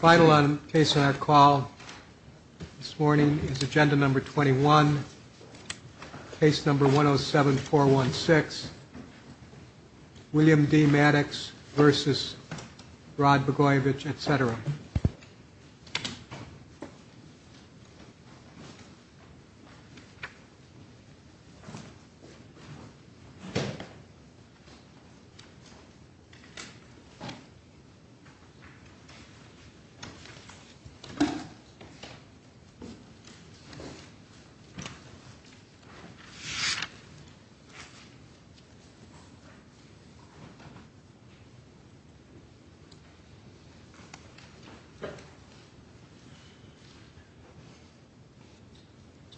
Final case on our call this morning is agenda number 21, case number 107-416, William D. Maddux v. Rod Blagojevich, etc.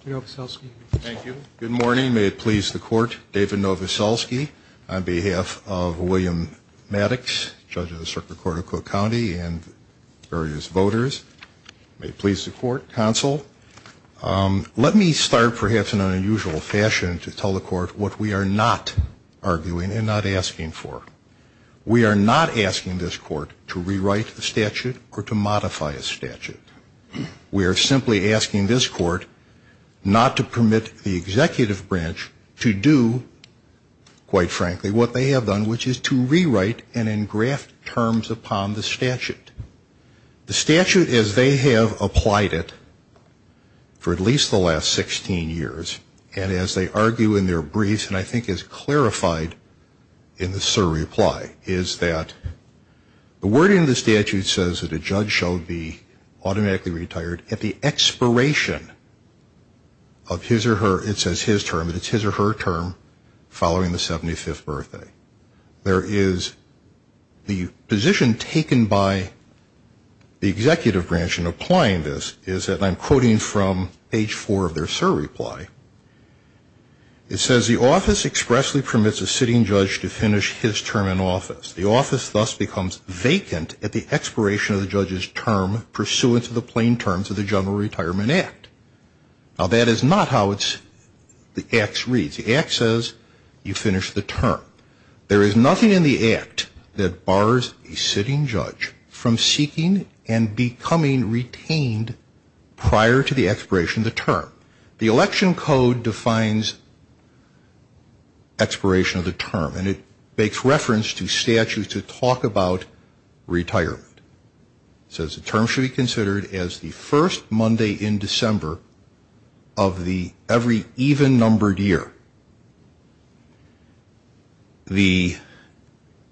Mr. Novoselsky. Thank you. Good morning. May it please the court, David Novoselsky on behalf of William Maddux, judge of the circuit court of Cook County and various voters. May it please the court, counsel. Let me start perhaps in an unusual fashion to tell the court what we are not arguing and not asking for. We are not asking this court to rewrite the statute or to modify a statute. We are simply asking this court not to permit the executive branch to do, quite frankly, what they have done, which is to rewrite and engraft terms upon the statute. The statute as they have applied it for at least the last 16 years, and as they argue in their briefs, and I think is clarified in this reply, is that the wording of the statute says that a judge shall be automatically retired at the expiration of his or her, it says his term, but it's his or her term following the 75th birthday. There is the position taken by the executive branch in applying this is that I'm quoting from page four of their surreply. It says the office expressly permits a sitting judge to finish his term in office. The office thus becomes vacant at the expiration of the judge's term pursuant to the plain terms of the General Retirement Act. Now that is not how the act reads. The act says you finish the term. There is nothing in the act that bars a sitting judge from seeking and becoming retained prior to the expiration of the term. The election code defines expiration of the term, and it makes reference to statutes that talk about retirement. It says the term should be considered as the first Monday in December of the every even-numbered year. The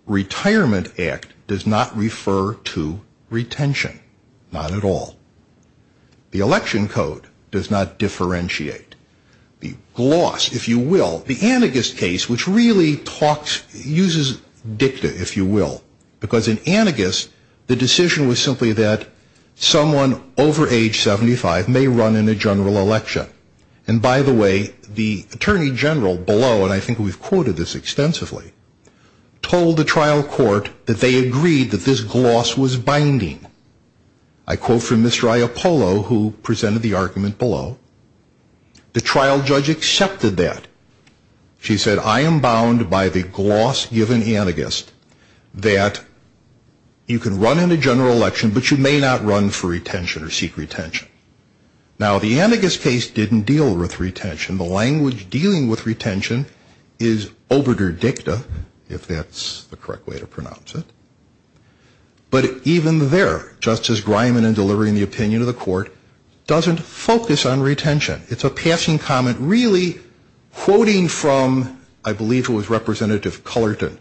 retirement act does not refer to retention, not at all. The election code does not differentiate. The gloss, if you will, the anagus case, which really uses dicta, if you will, because in anagus, the decision was simply that someone over age 75 may run in a general election. And by the way, the attorney general below, and I think we've quoted this extensively, told the trial court that they agreed that this gloss was binding. I quote from Mr. Iappolo, who presented the argument below. The trial judge accepted that. She said, I am bound by the gloss given anagus that you can run in a general election, but you may not run for retention or seek retention. Now, the anagus case didn't deal with retention. The language dealing with retention is obiter dicta, if that's the correct way to pronounce it. But even there, Justice Griman, in delivering the opinion to the court, doesn't focus on retention. It's a passing comment really quoting from, I believe it was Representative Cullerton,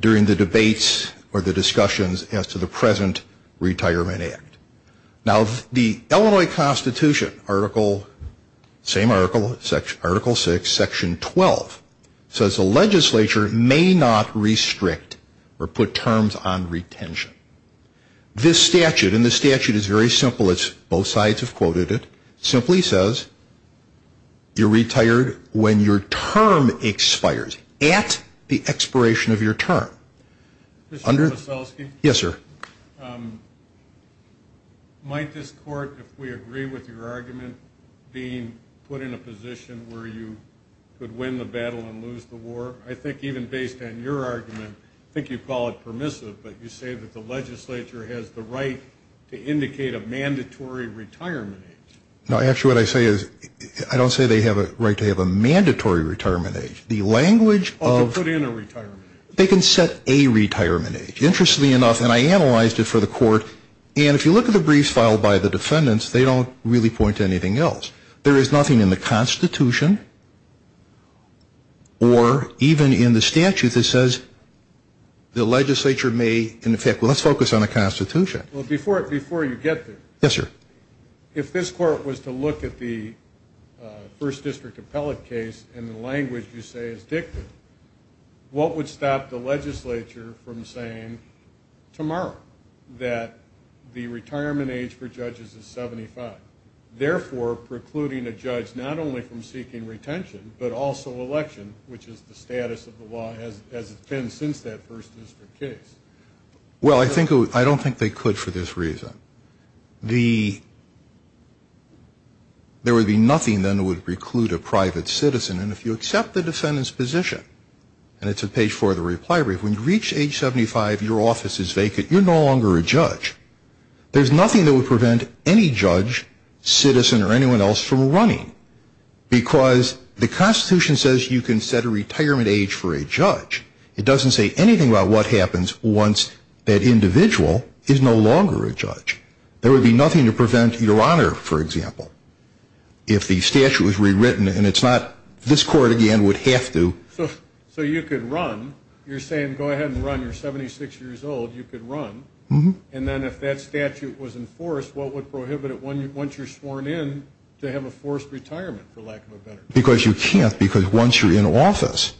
during the debates or the discussions as to the present retirement act. Now, the Illinois Constitution, same article, Article 6, Section 12, says the legislature may not restrict or put terms on retention. This statute, and this statute is very simple, both sides have quoted it, simply says you're retired when your term expires, at the expiration of your term. Mr. Veselsky? Yes, sir. Might this court, if we agree with your argument, be put in a position where you could win the battle and lose the war? I think even based on your argument, I think you call it permissive, but you say that the legislature has the right to indicate a mandatory retirement age. No, actually what I say is, I don't say they have a right to have a mandatory retirement age. Oh, to put in a retirement age. They can set a retirement age. Interestingly enough, and I analyzed it for the court, and if you look at the briefs filed by the defendants, they don't really point to anything else. There is nothing in the Constitution or even in the statute that says the legislature may, in effect, well, let's focus on the Constitution. Before you get there, if this court was to look at the first district appellate case in the language you say is dictated, what would stop the legislature from saying tomorrow that the retirement age for judges is 75, therefore precluding a judge not only from seeking retention but also election, which is the status of the law as it's been since that first district case? Well, I don't think they could for this reason. There would be nothing then that would preclude a private citizen, and if you accept the defendant's position, and it's at page four of the reply brief, when you reach age 75, your office is vacant, you're no longer a judge. There's nothing that would prevent any judge, citizen, or anyone else from running, because the Constitution says you can set a retirement age for a judge. It doesn't say anything about what happens once that individual is no longer a judge. There would be nothing to prevent your honor, for example, if the statute was rewritten, and it's not this court, again, would have to. So you could run. You're saying go ahead and run. You're 76 years old. You could run. And then if that statute was enforced, what would prohibit it once you're sworn in to have a forced retirement, for lack of a better term? Because you can't because once you're in office.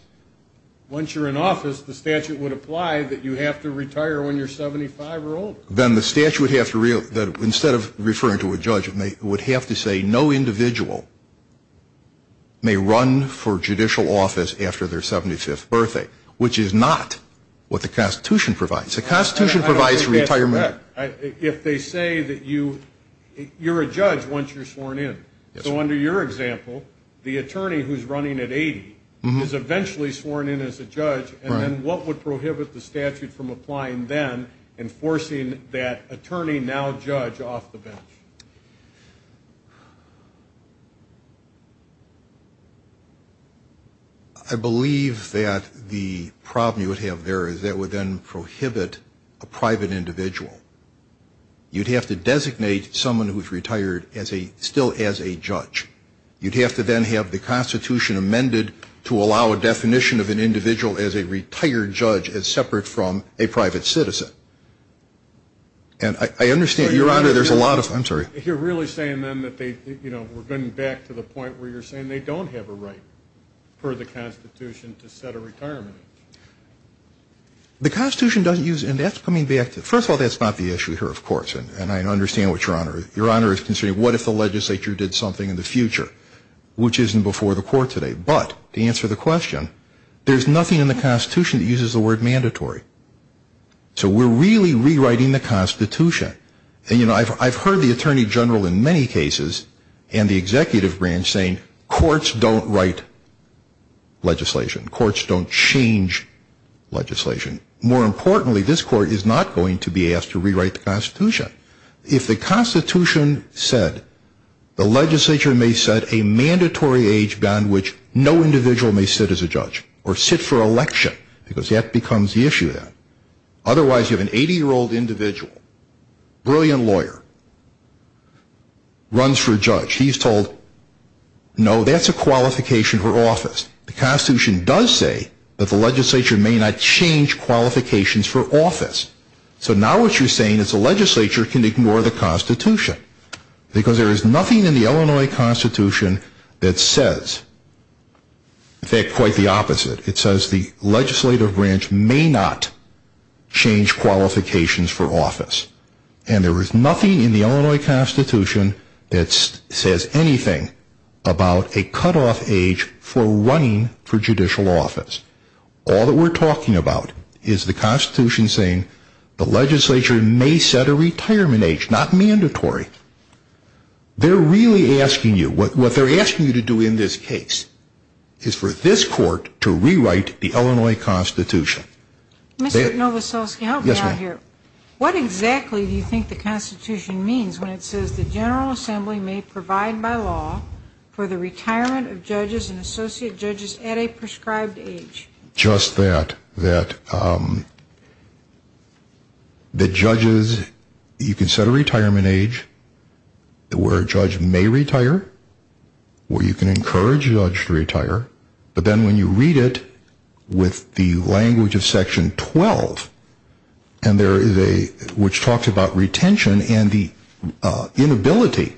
Once you're in office, the statute would apply that you have to retire when you're 75 or older. Then the statute would have to, instead of referring to a judge, it would have to say no individual may run for judicial office after their 75th birthday, which is not what the Constitution provides. I don't think that's correct. If they say that you're a judge once you're sworn in. So under your example, the attorney who's running at 80 is eventually sworn in as a judge, and then what would prohibit the statute from applying then and forcing that attorney, now judge, off the bench? I believe that the problem you would have there is that would then prohibit a private individual. You'd have to designate someone who's retired as a, still as a judge. You'd have to then have the Constitution amended to allow a definition of an individual as a retired judge as separate from a private citizen. And I understand, Your Honor, there's a lot of, I'm sorry. You're really saying then that they, you know, we're getting back to the point where you're saying they don't have a right, per the Constitution, to set a retirement age. The Constitution doesn't use, and that's coming back to, first of all, that's not the issue here, of course, and I understand what Your Honor, Your Honor is considering. What if the legislature did something in the future which isn't before the court today? But, to answer the question, there's nothing in the Constitution that uses the word mandatory. So we're really rewriting the Constitution. And, you know, I've heard the Attorney General in many cases and the Executive Branch saying courts don't write legislation. Courts don't change legislation. More importantly, this court is not going to be asked to rewrite the Constitution. If the Constitution said, the legislature may set a mandatory age beyond which no individual may sit as a judge, or sit for election, because that becomes the issue then. Otherwise, you have an 80-year-old individual, brilliant lawyer, runs for judge. He's told, no, that's a qualification for office. The Constitution does say that the legislature may not change qualifications for office. So now what you're saying is the legislature can ignore the Constitution. Because there is nothing in the Illinois Constitution that says quite the opposite. It says the legislative branch may not change qualifications for office. And there is nothing in the Illinois Constitution that says anything about a cutoff age for running for judicial office. All that we're talking about is the Constitution saying the legislature may set a retirement age, not mandatory. They're really asking you, what they're asking you to do in this case, is for this court to rewrite the Illinois Constitution. Mr. Novoselsky, help me out here. What exactly do you think the Constitution means when it says the General Assembly may provide by law for the retirement of judges and associate judges at a prescribed age? Just that, that judges, you can set a retirement age where a judge may retire, where you can encourage a judge to retire. But then when you read it with the language of Section 12, and there is a, which talks about retention and the inability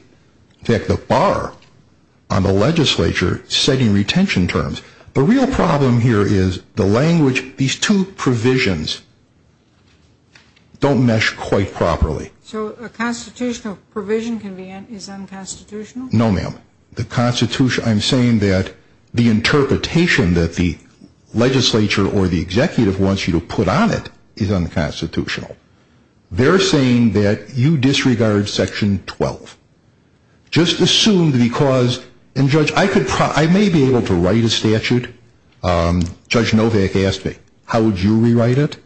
to hit the bar on the legislature setting retention terms. The real problem here is the language, these two provisions don't mesh quite properly. So a constitutional provision can be, is unconstitutional? No, ma'am. The Constitution, I'm saying that the interpretation that the legislature or the executive wants you to put on it is unconstitutional. They're saying that you disregard Section 12. Just assume because, and Judge, I may be able to write a statute. Judge Novak asked me, how would you rewrite it?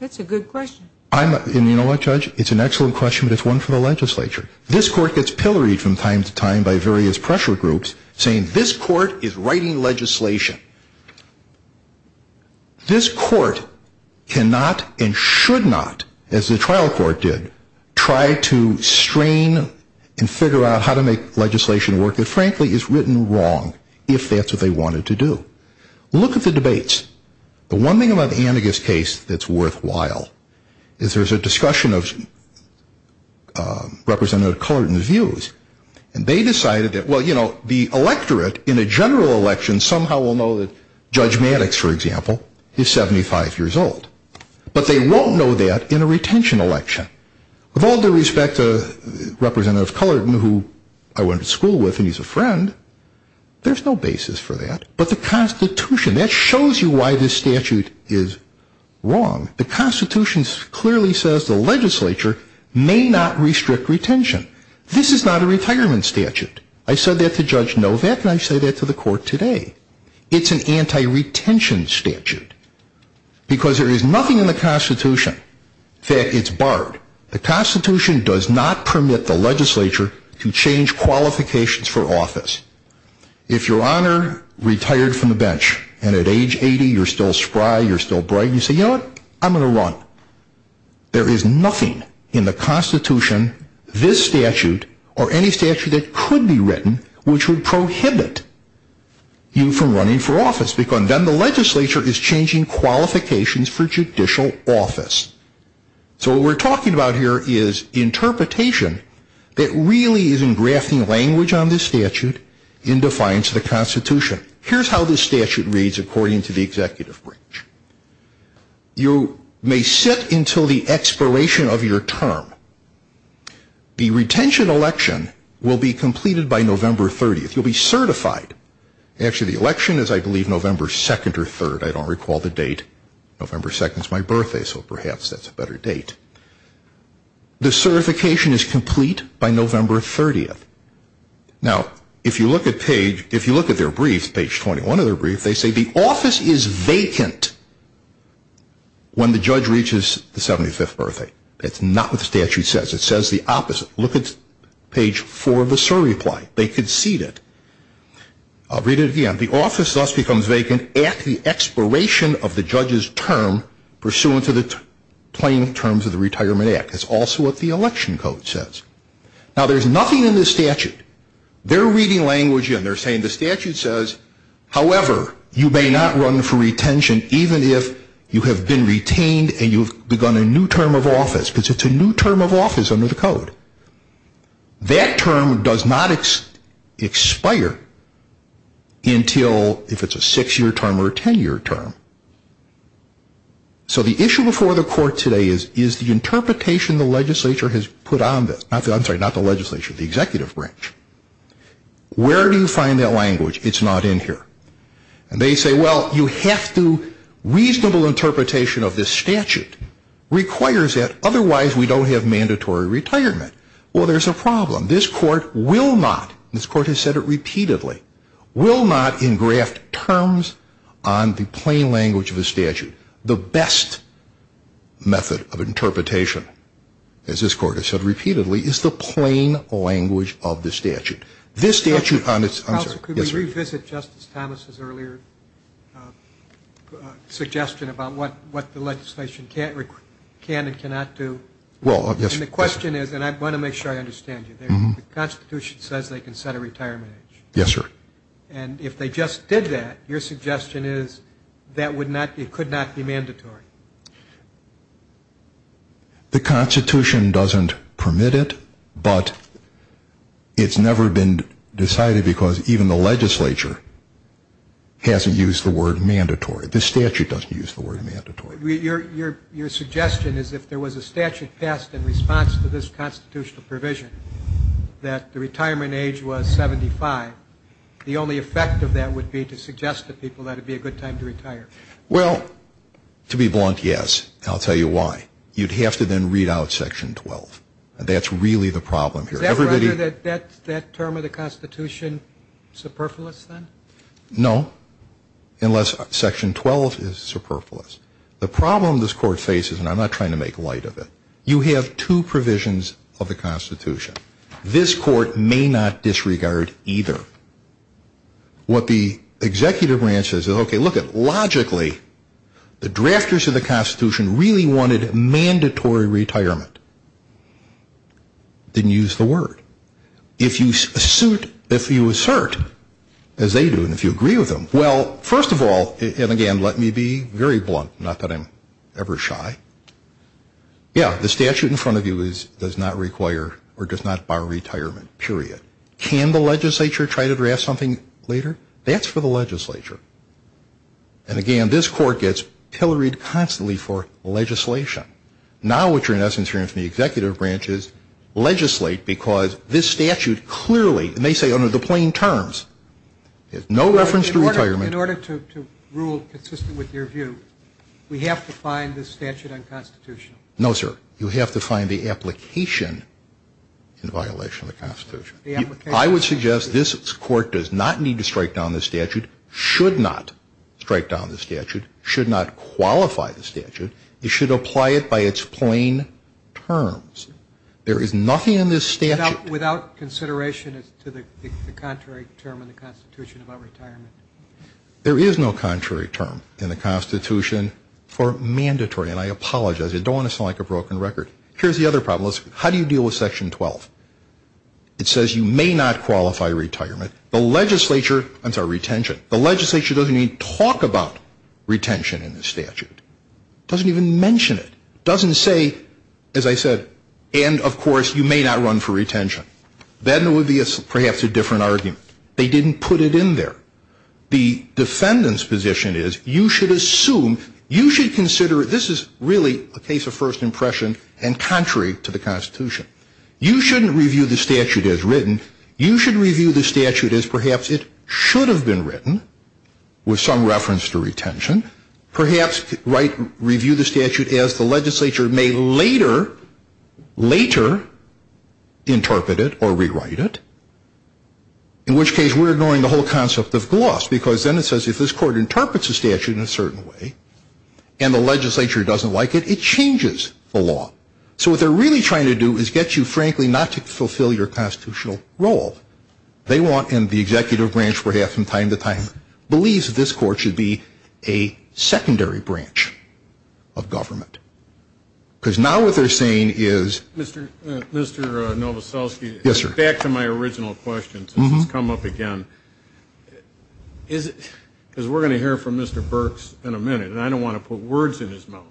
That's a good question. And you know what, Judge, it's an excellent question, but it's one for the legislature. This court gets pilloried from time to time by various pressure groups, saying this court is writing legislation. This court cannot and should not, as the trial court did, try to strain and figure out how to make legislation work, that frankly is written wrong, if that's what they wanted to do. Look at the debates. The one thing about the Anagus case that's worthwhile is there's a discussion of Representative Cullerton's views. And they decided that, well, you know, the electorate in a general election somehow will know that Judge Maddox, for example, is 75 years old. But they won't know that in a retention election. With all due respect to Representative Cullerton, who I went to school with and he's a friend, there's no basis for that. But the Constitution, that shows you why this statute is wrong. The Constitution clearly says the legislature may not restrict retention. This is not a retirement statute. I said that to Judge Novak and I say that to the court today. It's an anti-retention statute. Because there is nothing in the Constitution that is barred. The Constitution does not permit the legislature to change qualifications for office. If your honor retired from the bench and at age 80 you're still spry, you're still bright, you say, you know what, I'm going to run. There is nothing in the Constitution, this statute, or any statute that could be written, which would prohibit you from running for office. Because then the legislature is changing qualifications for judicial office. So what we're talking about here is interpretation that really is engrafting language on this statute in defiance of the Constitution. Here's how this statute reads according to the executive branch. You may sit until the expiration of your term. The retention election will be completed by November 30th. You'll be certified. Actually the election is, I believe, November 2nd or 3rd. I don't recall the date. November 2nd is my birthday, so perhaps that's a better date. The certification is complete by November 30th. Now, if you look at their brief, page 21 of their brief, they say the office is vacant when the judge reaches the 75th birthday. That's not what the statute says. It says the opposite. Look at page 4 of the cert reply. They concede it. I'll read it again. The office thus becomes vacant at the expiration of the judge's term pursuant to the plain terms of the Retirement Act. That's also what the election code says. Now, there's nothing in this statute. They're reading language in. They're saying the statute says, however, you may not run for retention even if you have been retained and you've begun a new term of office. That term does not expire until if it's a six-year term or a ten-year term. So the issue before the court today is the interpretation the legislature has put on this. I'm sorry, not the legislature, the executive branch. Where do you find that language? It's not in here. And they say, well, you have to reasonable interpretation of this statute requires it. Otherwise, we don't have mandatory retirement. Well, there's a problem. This court will not, this court has said it repeatedly, will not engraft terms on the plain language of the statute. The best method of interpretation, as this court has said repeatedly, is the plain language of the statute. This statute, I'm sorry. Counsel, could we revisit Justice Thomas's earlier suggestion about what the legislation can and cannot do? Well, yes. And the question is, and I want to make sure I understand you, the Constitution says they can set a retirement age. Yes, sir. And if they just did that, your suggestion is that would not, it could not be mandatory. The Constitution doesn't permit it, but it's never been decided because even the legislature hasn't used the word mandatory. The statute doesn't use the word mandatory. Your suggestion is if there was a statute passed in response to this constitutional provision that the retirement age was 75, the only effect of that would be to suggest to people that it would be a good time to retire. Well, to be blunt, yes. And I'll tell you why. You'd have to then read out Section 12. That's really the problem here. Does that render that term of the Constitution superfluous then? No, unless Section 12 is superfluous. The problem this court faces, and I'm not trying to make light of it, you have two provisions of the Constitution. This court may not disregard either. What the executive branch says is, okay, lookit, logically, the drafters of the Constitution really wanted mandatory retirement. Didn't use the word. If you assert, as they do, and if you agree with them, well, first of all, and again, let me be very blunt, not that I'm ever shy. Yeah, the statute in front of you does not require or does not bar retirement, period. Can the legislature try to draft something later? That's for the legislature. And again, this court gets pilloried constantly for legislation. Now what you're in essence hearing from the executive branch is legislate because this statute clearly, and they say under the plain terms, has no reference to retirement. In order to rule consistent with your view, we have to find this statute unconstitutional. No, sir. You have to find the application in violation of the Constitution. I would suggest this court does not need to strike down the statute, should not strike down the statute, should not qualify the statute. It should apply it by its plain terms. There is nothing in this statute. Without consideration as to the contrary term in the Constitution about retirement. There is no contrary term in the Constitution for mandatory, and I apologize. I don't want to sound like a broken record. Here's the other problem. How do you deal with Section 12? It says you may not qualify retirement. The legislature, I'm sorry, retention. The legislature doesn't even talk about retention in the statute. It doesn't even mention it. It doesn't say, as I said, and of course you may not run for retention. Then it would be perhaps a different argument. They didn't put it in there. The defendant's position is you should assume, you should consider, this is really a case of first impression and contrary to the Constitution. You shouldn't review the statute as written. You should review the statute as perhaps it should have been written with some reference to retention. Perhaps review the statute as the legislature may later, later interpret it or rewrite it, in which case we're ignoring the whole concept of gloss, because then it says if this court interprets the statute in a certain way and the legislature doesn't like it, it changes the law. So what they're really trying to do is get you, frankly, not to fulfill your constitutional role. They want, and the executive branch perhaps from time to time, believes that this court should be a secondary branch of government. Because now what they're saying is. Mr. Novoselsky. Yes, sir. Back to my original question since it's come up again. Because we're going to hear from Mr. Burks in a minute, and I don't want to put words in his mouth.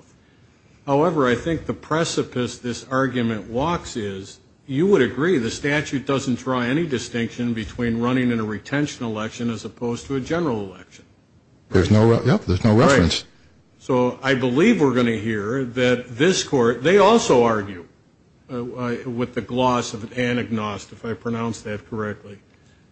However, I think the precipice this argument walks is you would agree the statute doesn't draw any distinction between running in a retention election as opposed to a general election. There's no reference. Right. So I believe we're going to hear that this court, they also argue with the gloss of an agnostic, if I pronounced that correctly,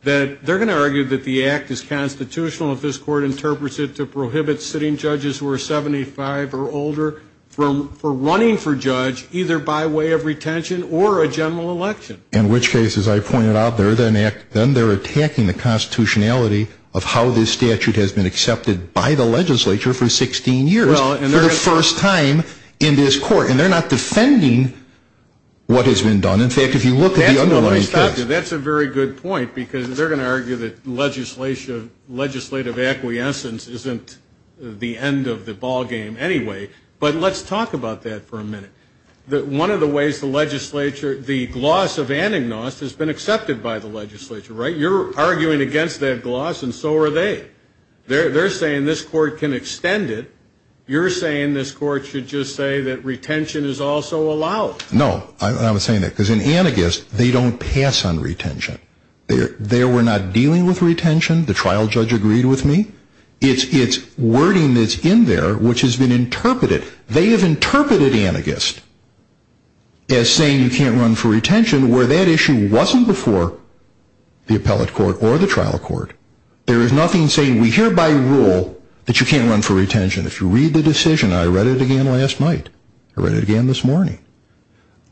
that they're going to argue that the act is constitutional if this court interprets it to prohibit sitting judges who are 75 or older from running for judge, either by way of retention or a general election. In which case, as I pointed out, then they're attacking the constitutionality of how this statute has been accepted by the legislature for 16 years, for the first time in this court. And they're not defending what has been done. In fact, if you look at the underlying case. Let me stop you. That's a very good point, because they're going to argue that legislative acquiescence isn't the end of the ballgame anyway. But let's talk about that for a minute. One of the ways the legislature, the gloss of an agnostic has been accepted by the legislature, right? You're arguing against that gloss, and so are they. They're saying this court can extend it. You're saying this court should just say that retention is also allowed. Well, no. I was saying that. Because in anagist, they don't pass on retention. They were not dealing with retention. The trial judge agreed with me. It's wording that's in there which has been interpreted. They have interpreted anagist as saying you can't run for retention, where that issue wasn't before the appellate court or the trial court. There is nothing saying we hereby rule that you can't run for retention. If you read the decision, I read it again last night. I read it again this morning.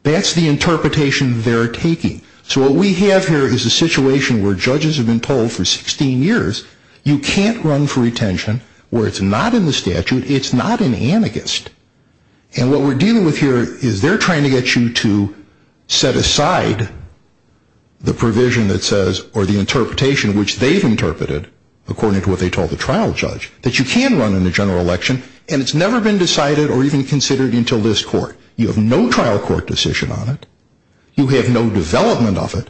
That's the interpretation they're taking. So what we have here is a situation where judges have been told for 16 years, you can't run for retention where it's not in the statute. It's not in anagist. And what we're dealing with here is they're trying to get you to set aside the provision that says, or the interpretation which they've interpreted according to what they told the trial judge, that you can run in the general election, and it's never been decided or even considered until this court. You have no trial court decision on it. You have no development of it.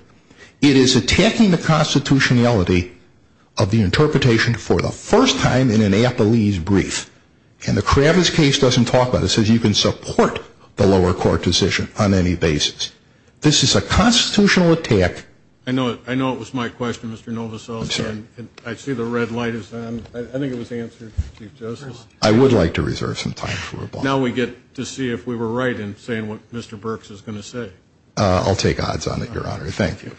It is attacking the constitutionality of the interpretation for the first time in an appellee's brief. And the Kravis case doesn't talk about it. It says you can support the lower court decision on any basis. This is a constitutional attack. I know it was my question, Mr. Novoselic. I'm sorry. I see the red light is on. I think it was answered, Chief Justice. I would like to reserve some time for rebuttal. Now we get to see if we were right in saying what Mr. Burks is going to say. I'll take odds on it, Your Honor. Thank you.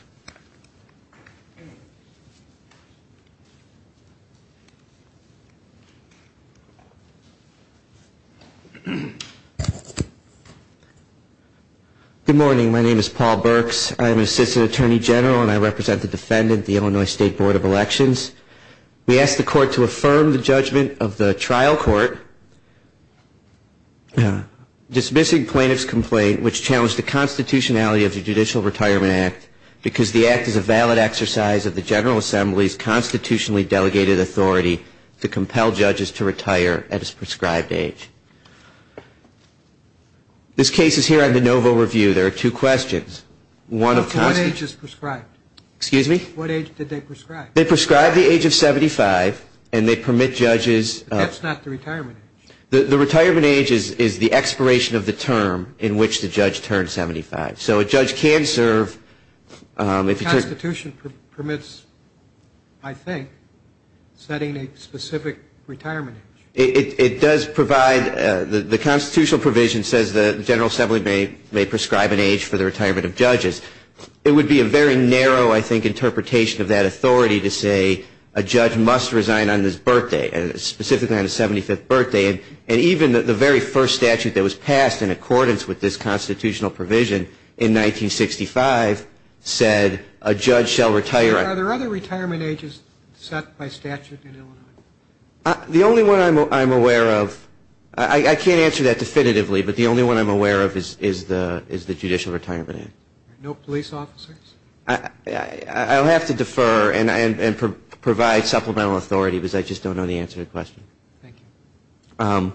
Good morning. My name is Paul Burks. I'm an assistant attorney general, and I represent the defendant, the Illinois State Board of Elections. We ask the court to affirm the judgment of the trial court dismissing plaintiff's complaint, which challenged the constitutionality of the Judicial Retirement Act, because the act is a valid exercise of the General Assembly's constitutionally delegated authority to compel judges to retire at his prescribed age. This case is here on de novo review. There are two questions. What age is prescribed? Excuse me? What age did they prescribe? They prescribed the age of 75, and they permit judges. That's not the retirement age. The retirement age is the expiration of the term in which the judge turns 75. So a judge can serve. The constitution permits, I think, setting a specific retirement age. It does provide. The constitutional provision says the General Assembly may prescribe an age for the retirement of judges. It would be a very narrow, I think, interpretation of that authority to say a judge must resign on his birthday, specifically on his 75th birthday. And even the very first statute that was passed in accordance with this constitutional provision in 1965 said a judge shall retire. Are there other retirement ages set by statute in Illinois? The only one I'm aware of, I can't answer that definitively, but the only one I'm aware of is the Judicial Retirement Act. No police officers? I'll have to defer and provide supplemental authority because I just don't know the answer to the question. Thank you.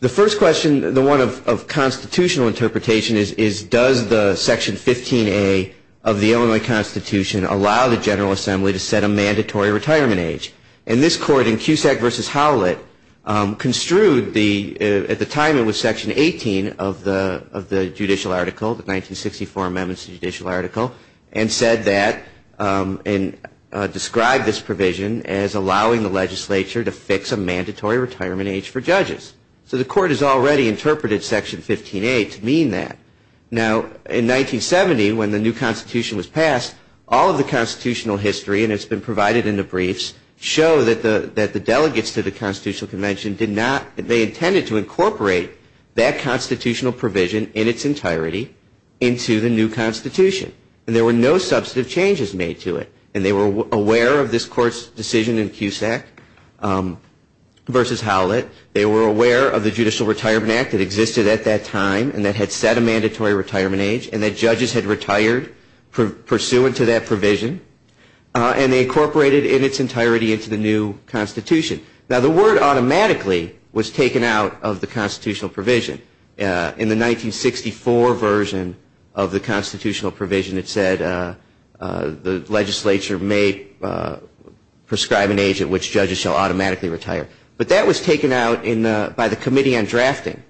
The first question, the one of constitutional interpretation, is does the Section 15A of the Illinois Constitution allow the General Assembly to set a mandatory retirement age? And this court in Cusack v. Howlett construed the, at the time it was Section 18 of the judicial article, the 1964 amendments to the judicial article, and said that, and described this provision as allowing the legislature to fix a mandatory retirement age for judges. So the court has already interpreted Section 15A to mean that. Now, in 1970, when the new constitution was passed, all of the constitutional history, and it's been provided in the briefs, show that the delegates to the constitutional convention did not, they intended to incorporate that constitutional provision in its entirety into the new constitution. And there were no substantive changes made to it. And they were aware of this court's decision in Cusack v. Howlett. They were aware of the Judicial Retirement Act that existed at that time and that had set a mandatory retirement age, and that judges had retired pursuant to that provision. And they incorporated it in its entirety into the new constitution. Now, the word automatically was taken out of the constitutional provision. In the 1964 version of the constitutional provision, it said, the legislature may prescribe an age at which judges shall automatically retire. But that was taken out by the Committee on Drafting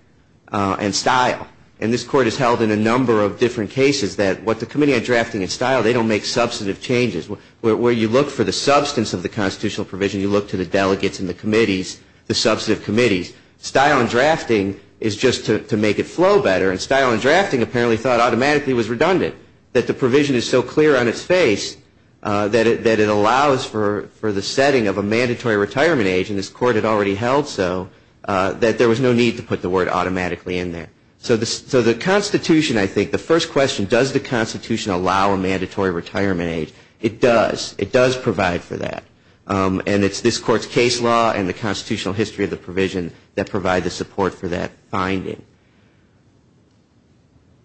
and Style. And this court has held in a number of different cases that what the Committee on Drafting and Style, they don't make substantive changes. Where you look for the substance of the constitutional provision, you look to the delegates and the committees, the substantive committees. Style and Drafting is just to make it flow better. And Style and Drafting apparently thought automatically was redundant, that the provision is so clear on its face that it allows for the setting of a mandatory retirement age, and this court had already held so, that there was no need to put the word automatically in there. So the constitution, I think, the first question, does the constitution allow a mandatory retirement age? It does. It does provide for that. And it's this court's case law and the constitutional history of the provision that provide the support for that finding.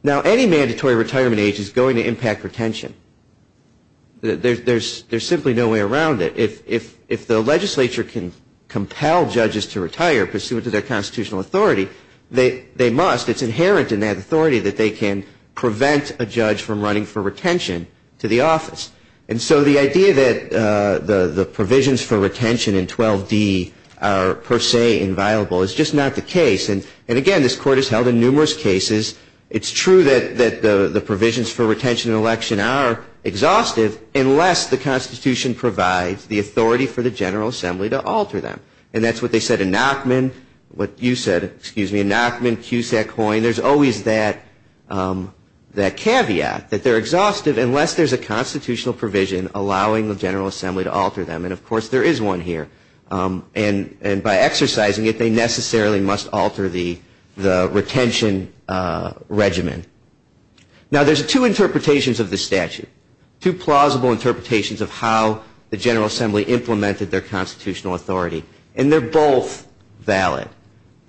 Now, any mandatory retirement age is going to impact retention. There's simply no way around it. If the legislature can compel judges to retire pursuant to their constitutional authority, they must. It's inherent in that authority that they can prevent a judge from running for retention to the office. And so the idea that the provisions for retention in 12D are per se inviolable is just not the case. And, again, this court has held in numerous cases, it's true that the provisions for retention in an election are exhaustive, unless the constitution provides the authority for the General Assembly to alter them. And that's what they said in Nachman, what you said, excuse me, in Nachman, Cusack, Hoyne. There's always that caveat that they're exhaustive unless there's a constitutional provision allowing the General Assembly to alter them. And, of course, there is one here. And by exercising it, they necessarily must alter the retention regimen. Now, there's two interpretations of this statute, two plausible interpretations of how the General Assembly implemented their constitutional authority. And they're both valid.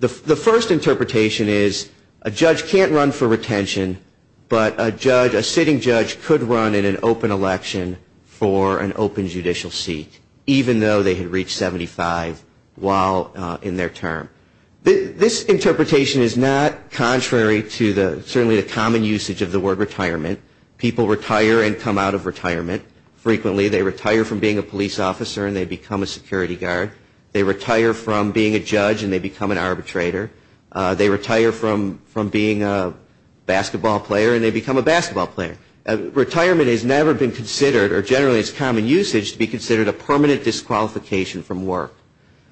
The first interpretation is a judge can't run for retention, but a sitting judge could run in an open election for an open judicial seat, even though they had reached 75 while in their term. This interpretation is not contrary to certainly the common usage of the word retirement. People retire and come out of retirement frequently. They retire from being a police officer and they become a security guard. They retire from being a judge and they become an arbitrator. They retire from being a basketball player and they become a basketball player. Retirement has never been considered, or generally it's common usage, to be considered a permanent disqualification from work.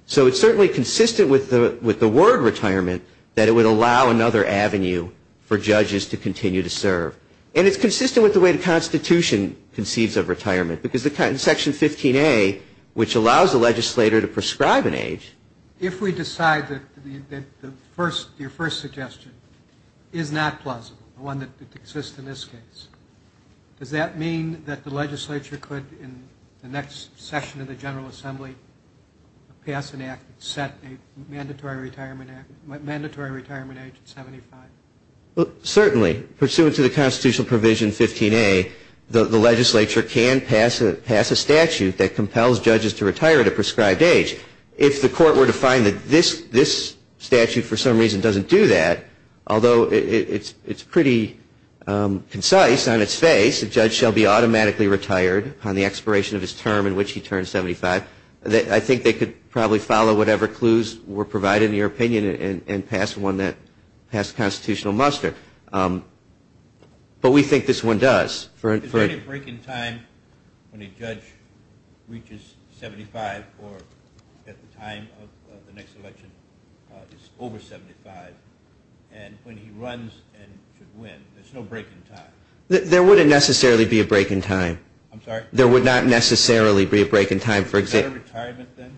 So it's certainly consistent with the word retirement that it would allow another avenue for judges to continue to serve. And it's consistent with the way the Constitution conceives of retirement, because in Section 15A, which allows a legislator to prescribe an age. If we decide that your first suggestion is not plausible, one that exists in this case, does that mean that the legislature could, in the next session of the General Assembly, pass an act that set a mandatory retirement age at 75? Certainly. Pursuant to the constitutional provision 15A, the legislature can pass a statute that compels judges to retire at a prescribed age. If the court were to find that this statute for some reason doesn't do that, although it's pretty concise on its face, a judge shall be automatically retired upon the expiration of his term in which he turns 75, I think they could probably follow whatever clues were provided in your opinion and pass one that passed constitutional muster. But we think this one does. Is there any break in time when a judge reaches 75 or at the time of the next election is over 75 and when he runs and should win? There's no break in time. There wouldn't necessarily be a break in time. I'm sorry? There would not necessarily be a break in time. Is that a retirement then?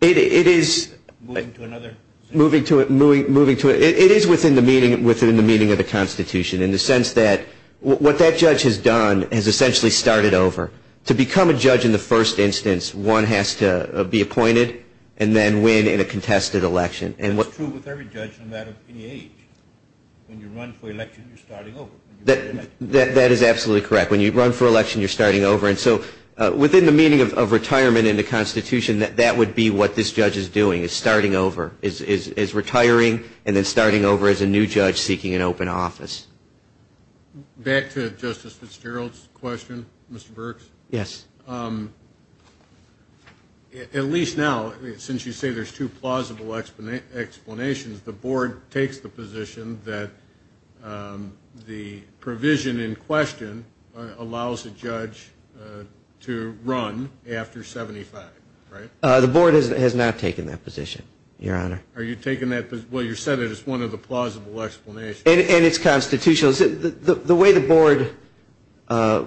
It is within the meaning of the Constitution in the sense that what that judge has done has essentially started over. To become a judge in the first instance, one has to be appointed and then win in a contested election. That's true with every judge no matter any age. When you run for election, you're starting over. That is absolutely correct. When you run for election, you're starting over. Within the meaning of retirement in the Constitution, that would be what this judge is doing, is retiring and then starting over as a new judge seeking an open office. Back to Justice Fitzgerald's question, Mr. Burks. Yes. At least now, since you say there's two plausible explanations, the board takes the position that the provision in question allows a judge to run after 75, right? The board has not taken that position, Your Honor. Are you taking that position? Well, you said it is one of the plausible explanations. And it's constitutional. The way the board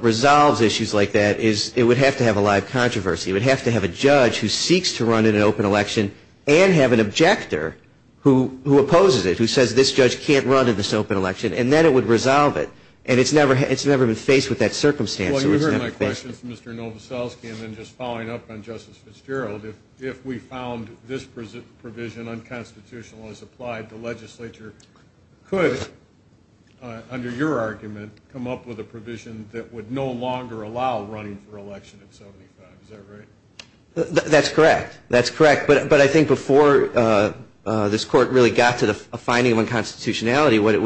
resolves issues like that is it would have to have a live controversy. It would have to have a judge who seeks to run in an open election and have an objector who opposes it, who says this judge can't run in this open election. And then it would resolve it. And it's never been faced with that circumstance. Well, you heard my question from Mr. Novoselsky. And then just following up on Justice Fitzgerald, if we found this provision unconstitutional as applied, the legislature could, under your argument, come up with a provision that would no longer allow running for election at 75. Is that right? That's correct. That's correct. But I think before this Court really got to the finding of unconstitutionality, what it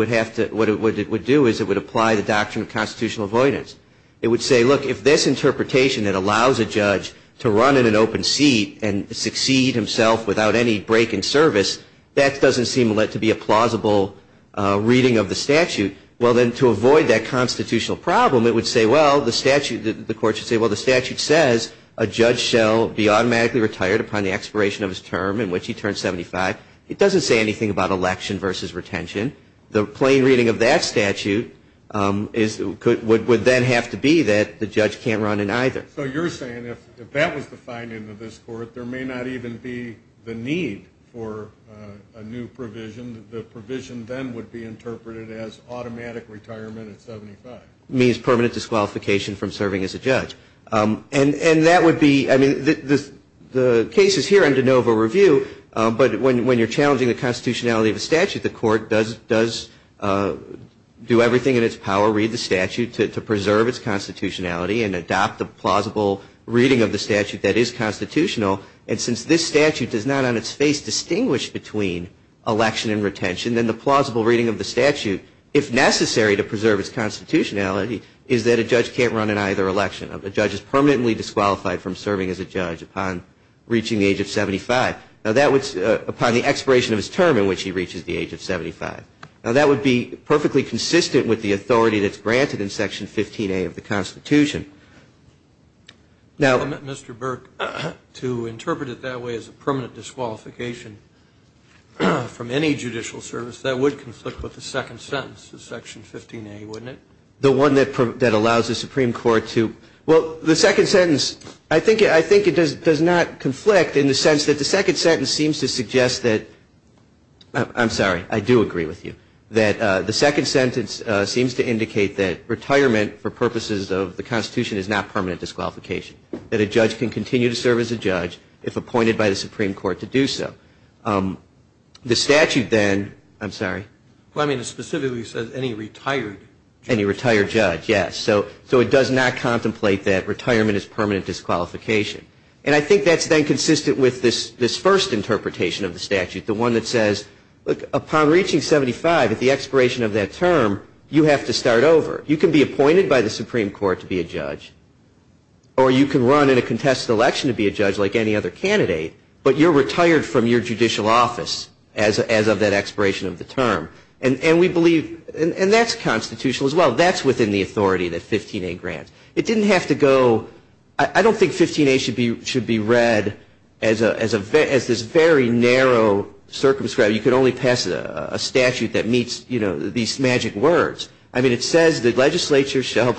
would do is it would apply the doctrine of constitutional avoidance. It would say, look, if this interpretation that allows a judge to run in an open seat and succeed himself without any break in service, that doesn't seem to be a plausible reading of the statute. Well, then to avoid that constitutional problem, it would say, well, the statute, the Court should say, well, the statute says a judge shall be automatically retired upon the expiration of his term in which he turns 75. It doesn't say anything about election versus retention. The plain reading of that statute would then have to be that the judge can't run in either. So you're saying if that was the finding of this Court, there may not even be the need for a new provision. The provision then would be interpreted as automatic retirement at 75. It means permanent disqualification from serving as a judge. And that would be, I mean, the case is here under NOVA review, but when you're challenging the constitutionality of a statute, the Court does do everything in its power, read the statute to preserve its constitutionality and adopt the plausible reading of the statute that is constitutional. And since this statute does not on its face distinguish between election and retention, then the plausible reading of the statute, if necessary to preserve its constitutionality, is that a judge can't run in either election. A judge is permanently disqualified from serving as a judge upon reaching the age of 75, upon the expiration of his term in which he reaches the age of 75. Now, that would be perfectly consistent with the authority that's granted in Section 15A of the Constitution. Now Mr. Burke, to interpret it that way as a permanent disqualification from any judicial service, that would conflict with the second sentence of Section 15A, wouldn't it? The one that allows the Supreme Court to, well, the second sentence, I think it does not conflict in the sense that the second sentence seems to suggest that, I'm sorry, I do agree with you, that the second sentence seems to indicate that retirement for purposes of the Constitution is not permanent disqualification, that a judge can continue to serve as a judge if appointed by the Supreme Court to do so. The statute then, I'm sorry. Well, I mean it specifically says any retired judge. Any retired judge, yes. So it does not contemplate that retirement is permanent disqualification. And I think that's then consistent with this first interpretation of the statute, the one that says, look, upon reaching 75, at the expiration of that term, you have to start over. You can be appointed by the Supreme Court to be a judge, or you can run in a contested election to be a judge like any other candidate, but you're retired from your judicial office as of that expiration of the term. And we believe, and that's constitutional as well, that's within the authority that 15A grants. It didn't have to go, I don't think 15A should be read as this very narrow circumscribe. You can only pass a statute that meets, you know, these magic words. I mean it says the legislature shall,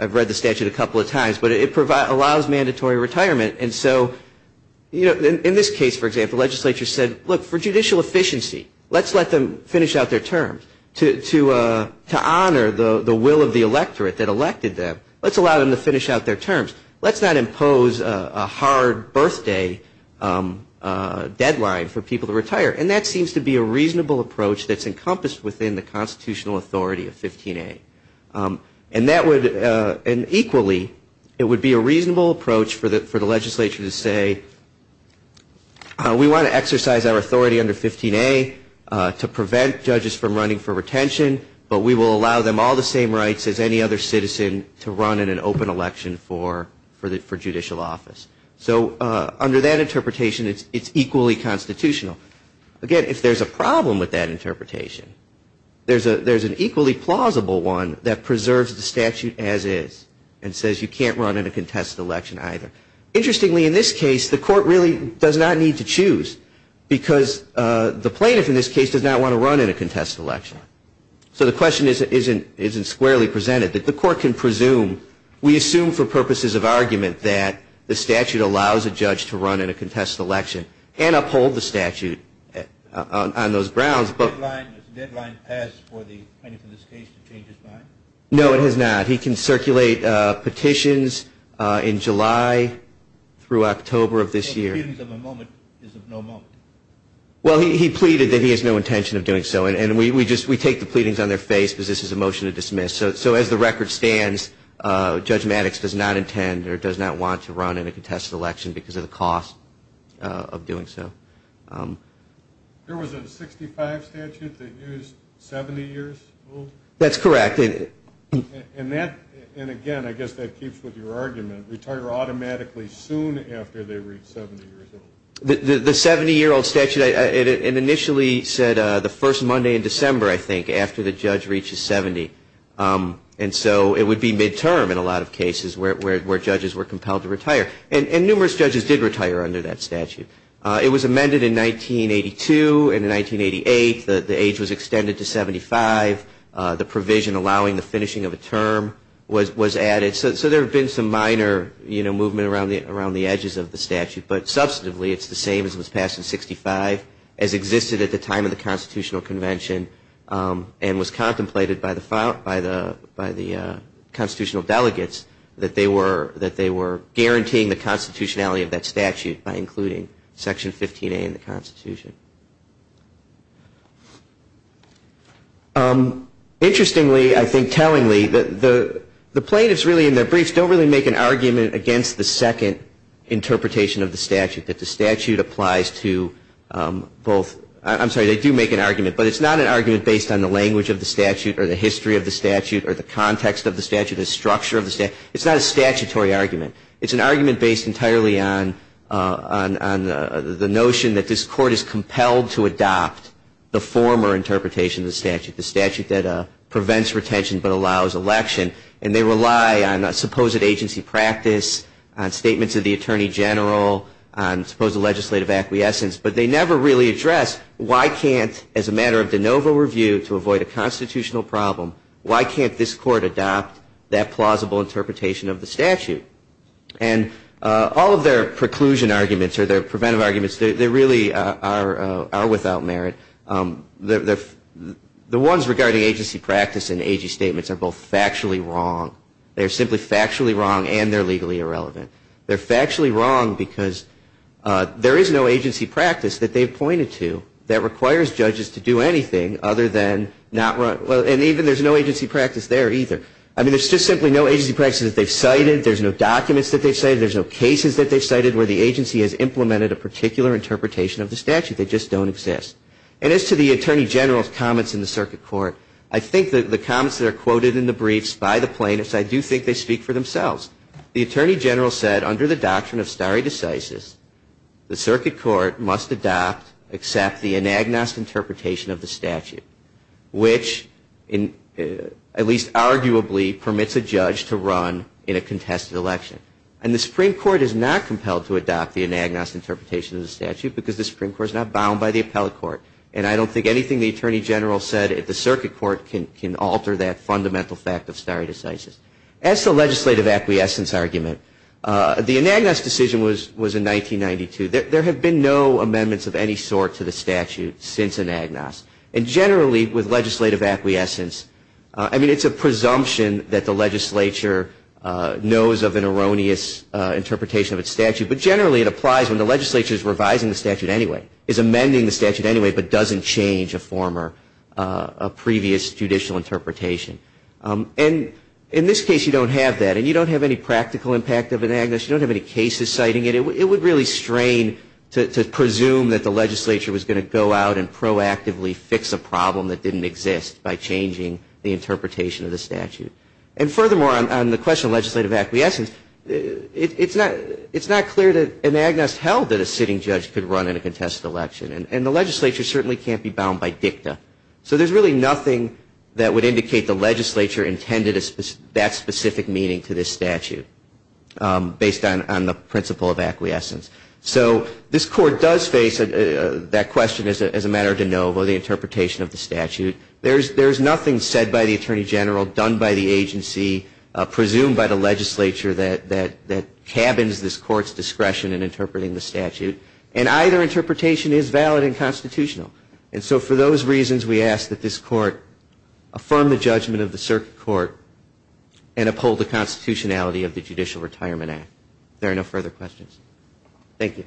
I've read the statute a couple of times, but it allows mandatory retirement. And so, you know, in this case, for example, the legislature said, look, for judicial efficiency, let's let them finish out their terms. To honor the will of the electorate that elected them, let's allow them to finish out their terms. Let's not impose a hard birthday deadline for people to retire. And that seems to be a reasonable approach that's encompassed within the constitutional authority of 15A. And that would, and equally, it would be a reasonable approach for the legislature to say, we want to exercise our authority under 15A to prevent judges from running for retention, but we will allow them all the same rights as any other citizen to run in an open election for judicial office. So under that interpretation, it's equally constitutional. Again, if there's a problem with that interpretation, there's an equally plausible one that preserves the statute as is and says you can't run in a contested election either. Interestingly, in this case, the court really does not need to choose because the plaintiff in this case does not want to run in a contested election. So the question isn't squarely presented. The court can presume, we assume for purposes of argument, that the statute allows a judge to run in a contested election and uphold the statute on those grounds. Has the deadline passed for the plaintiff in this case to change his mind? No, it has not. He can circulate petitions in July through October of this year. So pleadings of a moment is of no moment. Well, he pleaded that he has no intention of doing so. And we take the pleadings on their face because this is a motion to dismiss. So as the record stands, Judge Maddox does not intend or does not want to run in a contested election because of the cost of doing so. There was a 65 statute that used 70 years old? That's correct. And again, I guess that keeps with your argument. Retire automatically soon after they reach 70 years old. The 70-year-old statute initially said the first Monday in December, I think, after the judge reaches 70. And so it would be midterm in a lot of cases where judges were compelled to retire. And numerous judges did retire under that statute. It was amended in 1982 and in 1988. The age was extended to 75. The provision allowing the finishing of a term was added. But substantively, it's the same as was passed in 65 as existed at the time of the Constitutional Convention and was contemplated by the constitutional delegates that they were guaranteeing the constitutionality of that statute by including Section 15A in the Constitution. Interestingly, I think tellingly, the plaintiffs really in their briefs don't really make an argument against the second interpretation of the statute, that the statute applies to both. I'm sorry, they do make an argument. But it's not an argument based on the language of the statute or the history of the statute or the context of the statute or the structure of the statute. It's not a statutory argument. It's an argument based entirely on the notion that this Court is compelled to adopt the former interpretation of the statute, the statute that prevents retention but allows election. And they rely on supposed agency practice, on statements of the Attorney General, on supposed legislative acquiescence. But they never really address why can't, as a matter of de novo review to avoid a constitutional problem, why can't this Court adopt that plausible interpretation of the statute? And all of their preclusion arguments or their preventive arguments, they really are without merit. The ones regarding agency practice in AG statements are both factually wrong. They're simply factually wrong and they're legally irrelevant. They're factually wrong because there is no agency practice that they've pointed to that requires judges to do anything other than not run. And even there's no agency practice there either. I mean, there's just simply no agency practice that they've cited. There's no documents that they've cited. There's no cases that they've cited where the agency has implemented a particular interpretation of the statute. They just don't exist. And as to the Attorney General's comments in the Circuit Court, I think that the comments that are quoted in the briefs by the plaintiffs, I do think they speak for themselves. The Attorney General said under the doctrine of stare decisis, the Circuit Court must adopt, accept the anagnost interpretation of the statute, which at least arguably permits a judge to run in a contested election. And the Supreme Court is not compelled to adopt the anagnost interpretation of the statute because the Supreme Court is not bound by the appellate court. And I don't think anything the Attorney General said at the Circuit Court can alter that fundamental fact of stare decisis. As to the legislative acquiescence argument, the anagnost decision was in 1992. There have been no amendments of any sort to the statute since anagnost. And generally with legislative acquiescence, I mean, it's a presumption that the legislature knows of an erroneous interpretation of its statute, but generally it applies when the legislature is revising the statute anyway, is amending the statute anyway, but doesn't change a former, a previous judicial interpretation. And in this case, you don't have that. And you don't have any practical impact of anagnost. You don't have any cases citing it. It would really strain to presume that the legislature was going to go out and proactively fix a problem that didn't exist by changing the interpretation of the statute. And furthermore, on the question of legislative acquiescence, it's not clear that anagnost held that a sitting judge could run in a contested election. And the legislature certainly can't be bound by dicta. So there's really nothing that would indicate the legislature intended that specific meaning to this statute, based on the principle of acquiescence. So this Court does face that question as a matter of de novo, the interpretation of the statute. There's nothing said by the Attorney General, done by the agency, presumed by the legislature, that cabins this Court's discretion in interpreting the statute. And either interpretation is valid and constitutional. And so for those reasons, we ask that this Court affirm the judgment of the circuit court and uphold the constitutionality of the Judicial Retirement Act. If there are no further questions. Thank you.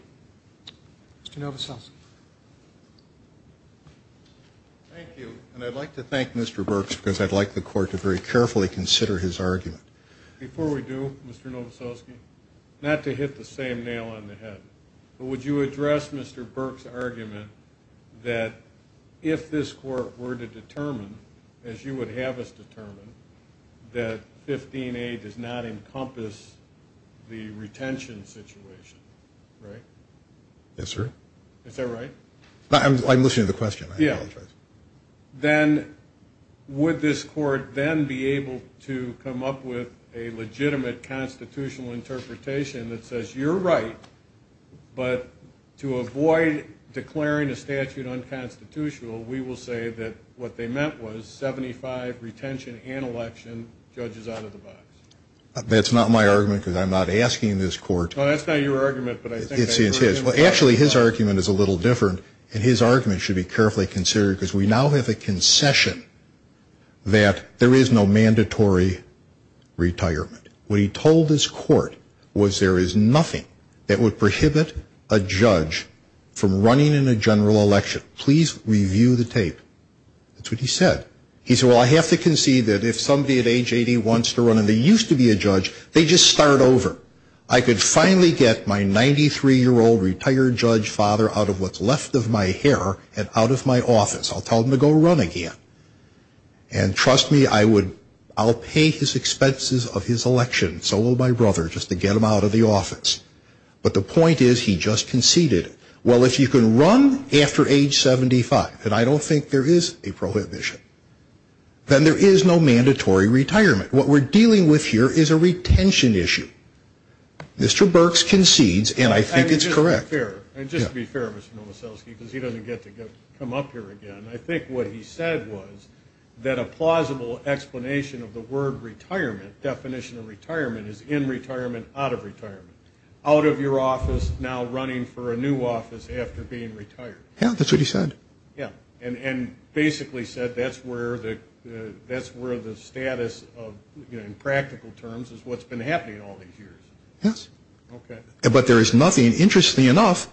Mr. Novoselic. Thank you. And I'd like to thank Mr. Burks because I'd like the Court to very carefully consider his argument. Before we do, Mr. Novoselic, not to hit the same nail on the head, but would you address Mr. Burks' argument that if this Court were to determine, as you would have us determine, that 15A does not encompass the retention situation, right? Yes, sir. Is that right? I'm listening to the question. Yeah. Then would this Court then be able to come up with a legitimate constitutional interpretation that says you're right, but to avoid declaring a statute unconstitutional, we will say that what they meant was 75 retention and election, judge is out of the box. That's not my argument because I'm not asking this Court. Well, actually, his argument is a little different, and his argument should be carefully considered because we now have a concession that there is no mandatory retirement. What he told this Court was there is nothing that would prohibit a judge from running in a general election. Please review the tape. That's what he said. He said, well, I have to concede that if somebody at age 80 wants to run, and they used to be a judge, they just start over. I could finally get my 93-year-old retired judge father out of what's left of my hair and out of my office. I'll tell him to go run again. And trust me, I'll pay his expenses of his election, so will my brother, just to get him out of the office. But the point is he just conceded. Well, if you can run after age 75, and I don't think there is a prohibition, then there is no mandatory retirement. What we're dealing with here is a retention issue. Mr. Burks concedes, and I think it's correct. And just to be fair, Mr. Novoselsky, because he doesn't get to come up here again, I think what he said was that a plausible explanation of the word retirement, definition of retirement, is in retirement, out of retirement. Out of your office, now running for a new office after being retired. Yeah, that's what he said. And basically said that's where the status, in practical terms, is what's been happening all these years. Yes. Okay. But there is nothing, interestingly enough,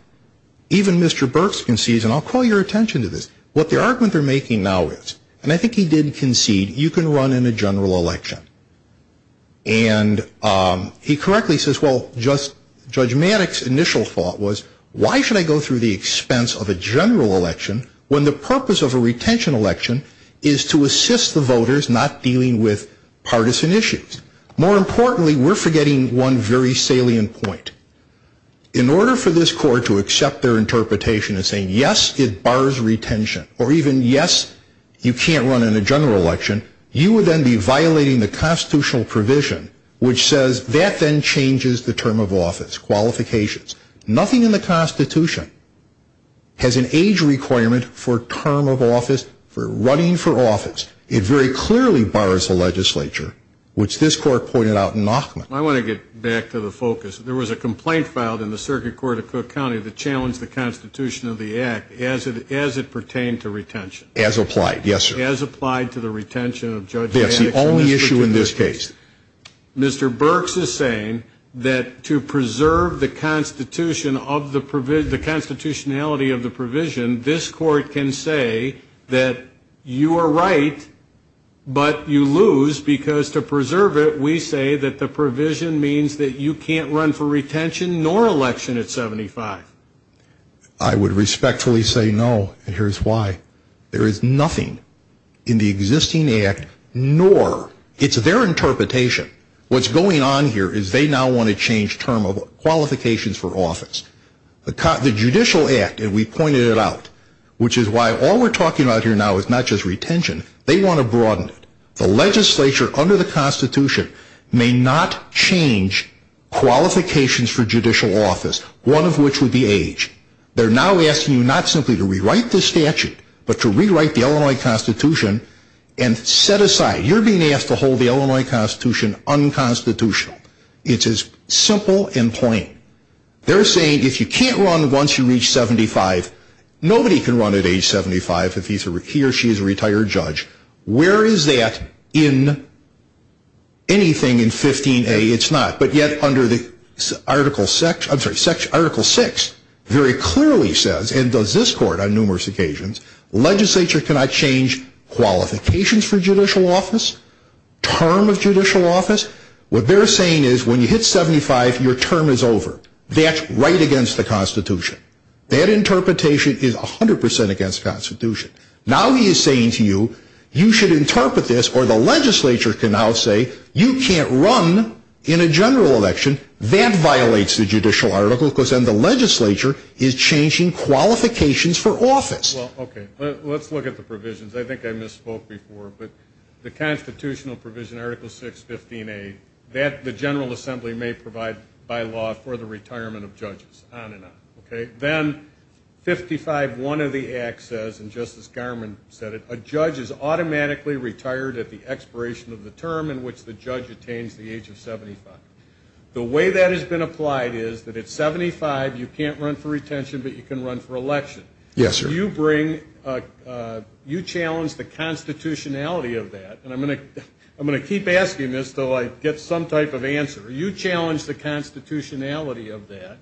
even Mr. Burks concedes, and I'll call your attention to this, what the argument they're making now is, and I think he did concede, you can run in a general election. And he correctly says, well, Judge Maddox's initial thought was, why should I go through the expense of a general election when the purpose of a retention election is to assist the voters not dealing with partisan issues? More importantly, we're forgetting one very salient point. In order for this court to accept their interpretation as saying, yes, it bars retention, or even, yes, you can't run in a general election, you would then be violating the constitutional provision, which says that then changes the term of office, qualifications. Nothing in the Constitution has an age requirement for term of office, for running for office. It very clearly bars the legislature, which this court pointed out in Nachman. I want to get back to the focus. There was a complaint filed in the Circuit Court of Cook County that challenged the Constitution of the Act as it pertained to retention. As applied. Yes, sir. As applied to the retention of Judge Maddox. That's the only issue in this case. Mr. Burks is saying that to preserve the constitutionality of the provision, this court can say that you are right, but you lose, because to preserve it, we say that the provision means that you can't run for retention nor election at 75. I would respectfully say no, and here's why. There is nothing in the existing Act, nor it's their interpretation. What's going on here is they now want to change term of qualifications for office. The Judicial Act, and we pointed it out, which is why all we're talking about here now is not just retention. They want to broaden it. The legislature under the Constitution may not change qualifications for judicial office, one of which would be age. They're now asking you not simply to rewrite the statute, but to rewrite the Illinois Constitution and set aside. You're being asked to hold the Illinois Constitution unconstitutional. It's as simple and plain. They're saying if you can't run once you reach 75, nobody can run at age 75 if he or she is a retired judge. Where is that in anything in 15a? It's not. Article 6 very clearly says, and does this Court on numerous occasions, legislature cannot change qualifications for judicial office, term of judicial office. What they're saying is when you hit 75, your term is over. That's right against the Constitution. That interpretation is 100% against the Constitution. Now he is saying to you, you should interpret this, or the legislature can now say, you can't run in a general election. That violates the judicial article because then the legislature is changing qualifications for office. Well, okay. Let's look at the provisions. I think I misspoke before, but the constitutional provision, Article 6, 15a, that the General Assembly may provide by law for the retirement of judges, on and on. Then 55.1 of the Act says, and Justice Garmon said it, a judge is automatically retired at the expiration of the term in which the judge attains the age of 75. The way that has been applied is that at 75 you can't run for retention, but you can run for election. Yes, sir. You bring, you challenge the constitutionality of that, and I'm going to keep asking this until I get some type of answer. You challenge the constitutionality of that,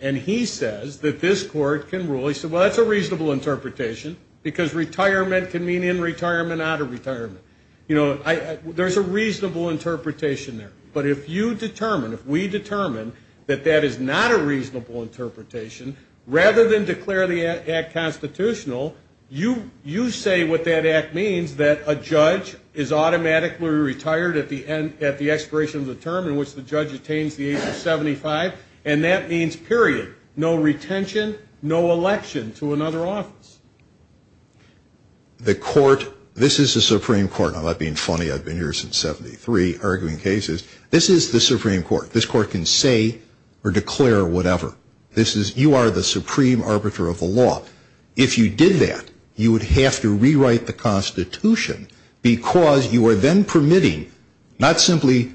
and he says that this Court can rule, Well, that's a reasonable interpretation because retirement can mean in retirement, out of retirement. You know, there's a reasonable interpretation there. But if you determine, if we determine that that is not a reasonable interpretation, rather than declare the Act constitutional, you say what that Act means, that a judge is automatically retired at the expiration of the term in which the judge attains the age of 75, and that means, period, no retention, no election to another office. The Court, this is the Supreme Court. I'm not being funny. I've been here since 73, arguing cases. This is the Supreme Court. This Court can say or declare whatever. This is, you are the supreme arbiter of the law. If you did that, you would have to rewrite the constitution because you are then permitting, not simply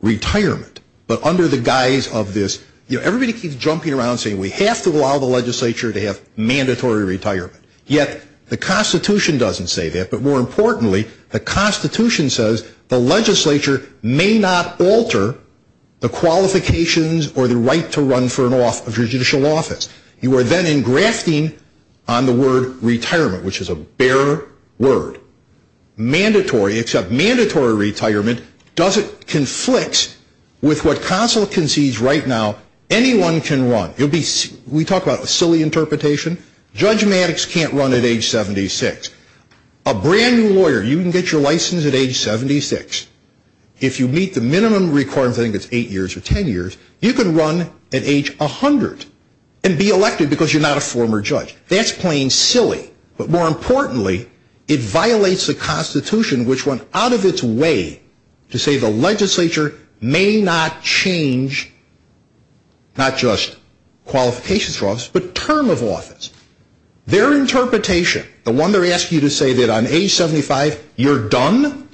retirement, but under the guise of this. You know, everybody keeps jumping around saying we have to allow the legislature to have mandatory retirement. Yet, the constitution doesn't say that. But more importantly, the constitution says the legislature may not alter the qualifications or the right to run for judicial office. You are then engrafting on the word retirement, which is a bare word, mandatory, except mandatory retirement conflicts with what consul can seize right now. Anyone can run. We talk about a silly interpretation. Judge Maddox can't run at age 76. A brand new lawyer, you can get your license at age 76. If you meet the minimum requirement, I think it's eight years or ten years, you can run at age 100 and be elected because you're not a former judge. That's plain silly. But more importantly, it violates the constitution, which went out of its way to say the legislature may not change not just qualifications for office, but term of office. Their interpretation, the one they're asking you to say that on age 75, you're done,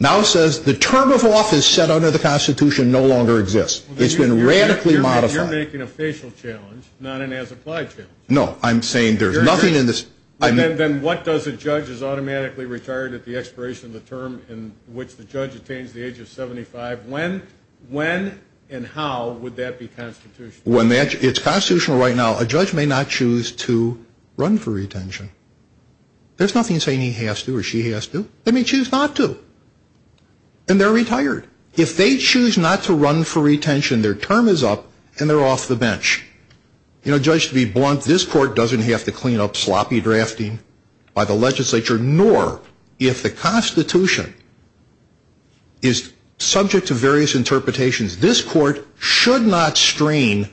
now says the term of office set under the constitution no longer exists. It's been radically modified. You're making a facial challenge, not an as-applied challenge. No, I'm saying there's nothing in this. Then what does a judge is automatically retired at the expiration of the term in which the judge attains the age of 75? When and how would that be constitutional? It's constitutional right now. A judge may not choose to run for retention. There's nothing saying he has to or she has to. They may choose not to. And they're retired. If they choose not to run for retention, their term is up and they're off the bench. You know, judge, to be blunt, this court doesn't have to clean up sloppy drafting by the legislature, nor if the constitution is subject to various interpretations, this court should not strain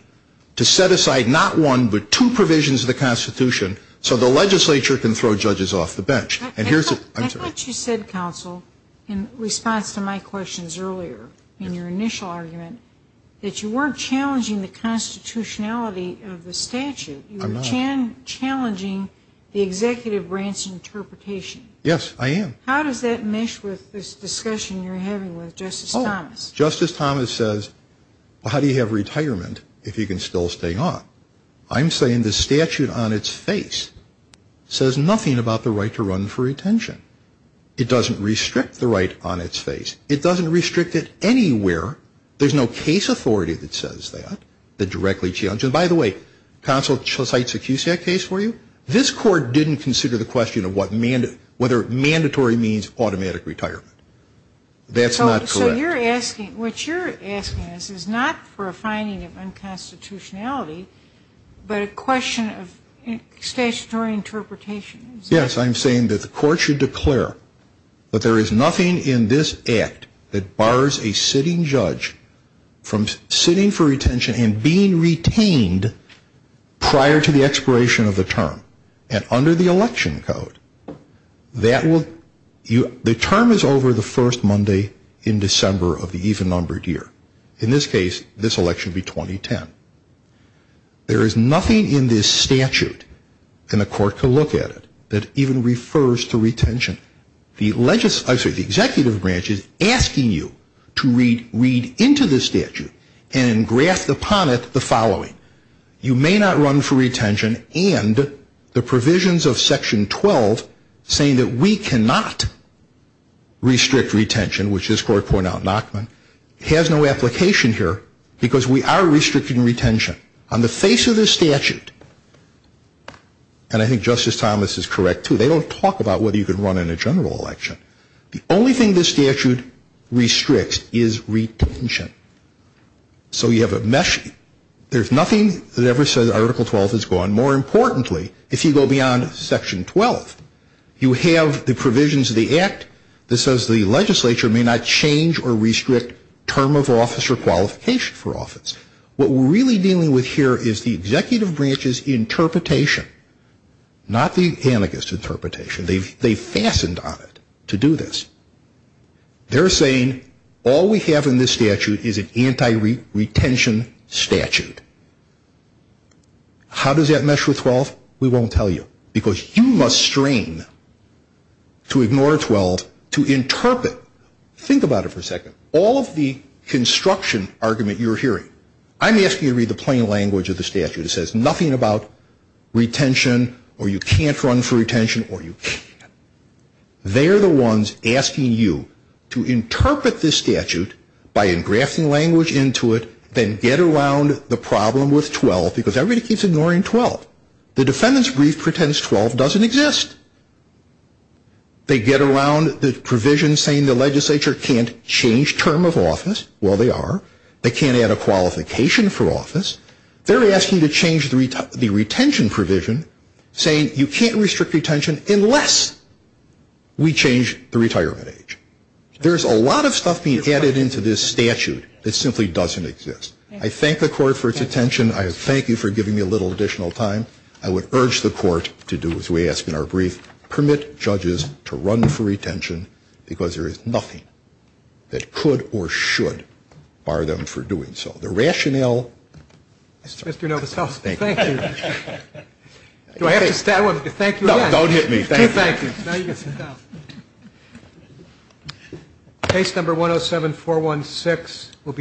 to set aside not one but two provisions of the constitution so the legislature can throw judges off the bench. I thought you said, counsel, in response to my questions earlier in your initial argument, that you weren't challenging the constitutionality of the statute. I'm not. You were challenging the executive branch interpretation. Yes, I am. How does that mesh with this discussion you're having with Justice Thomas? Justice Thomas says, well, how do you have retirement if you can still stay on? I'm saying the statute on its face says nothing about the right to run for retention. It doesn't restrict the right on its face. It doesn't restrict it anywhere. There's no case authority that says that, that directly challenges it. By the way, counsel cites a QCAC case for you. This court didn't consider the question of whether mandatory means automatic retirement. That's not correct. So what you're asking is not for a finding of unconstitutionality, but a question of statutory interpretation. Yes. I'm saying that the court should declare that there is nothing in this act that bars a sitting judge from sitting for retention and being retained prior to the expiration of the term. And under the election code, the term is over the first Monday in December of the even-numbered year. In this case, this election would be 2010. There is nothing in this statute, and the court can look at it, that even refers to retention. The executive branch is asking you to read into the statute and graft upon it the following. You may not run for retention, and the provisions of Section 12 saying that we cannot restrict retention, which this court pointed out in Nachman, has no application here because we are restricting retention. On the face of this statute, and I think Justice Thomas is correct, too, they don't talk about whether you can run in a general election. The only thing this statute restricts is retention. So you have a mesh. There's nothing that ever says Article 12 is gone. More importantly, if you go beyond Section 12, you have the provisions of the Act that says the legislature may not change or restrict term of office or qualification for office. What we're really dealing with here is the executive branch's interpretation, not the amicus interpretation. They've fastened on it to do this. They're saying all we have in this statute is an anti-retention statute. How does that mesh with 12? We won't tell you because you must strain to ignore 12 to interpret. Think about it for a second. All of the construction argument you're hearing, I'm asking you to read the plain language of the statute. It says nothing about retention or you can't run for retention or you can. They're the ones asking you to interpret this statute by engrafting language into it, then get around the problem with 12 because everybody keeps ignoring 12. The defendant's brief pretends 12 doesn't exist. They get around the provision saying the legislature can't change term of office. Well, they are. They can't add a qualification for office. They're asking you to change the retention provision, saying you can't restrict retention unless we change the retirement age. There's a lot of stuff being added into this statute that simply doesn't exist. I thank the court for its attention. I thank you for giving me a little additional time. I would urge the court to do as we ask in our brief. Permit judges to run for retention because there is nothing that could or should bar them from doing so. The rationale. Mr. Novoselic. Thank you. Do I have to thank you again? No, don't hit me. Okay, thank you. Now you can sit down. Case number 107-416 will be.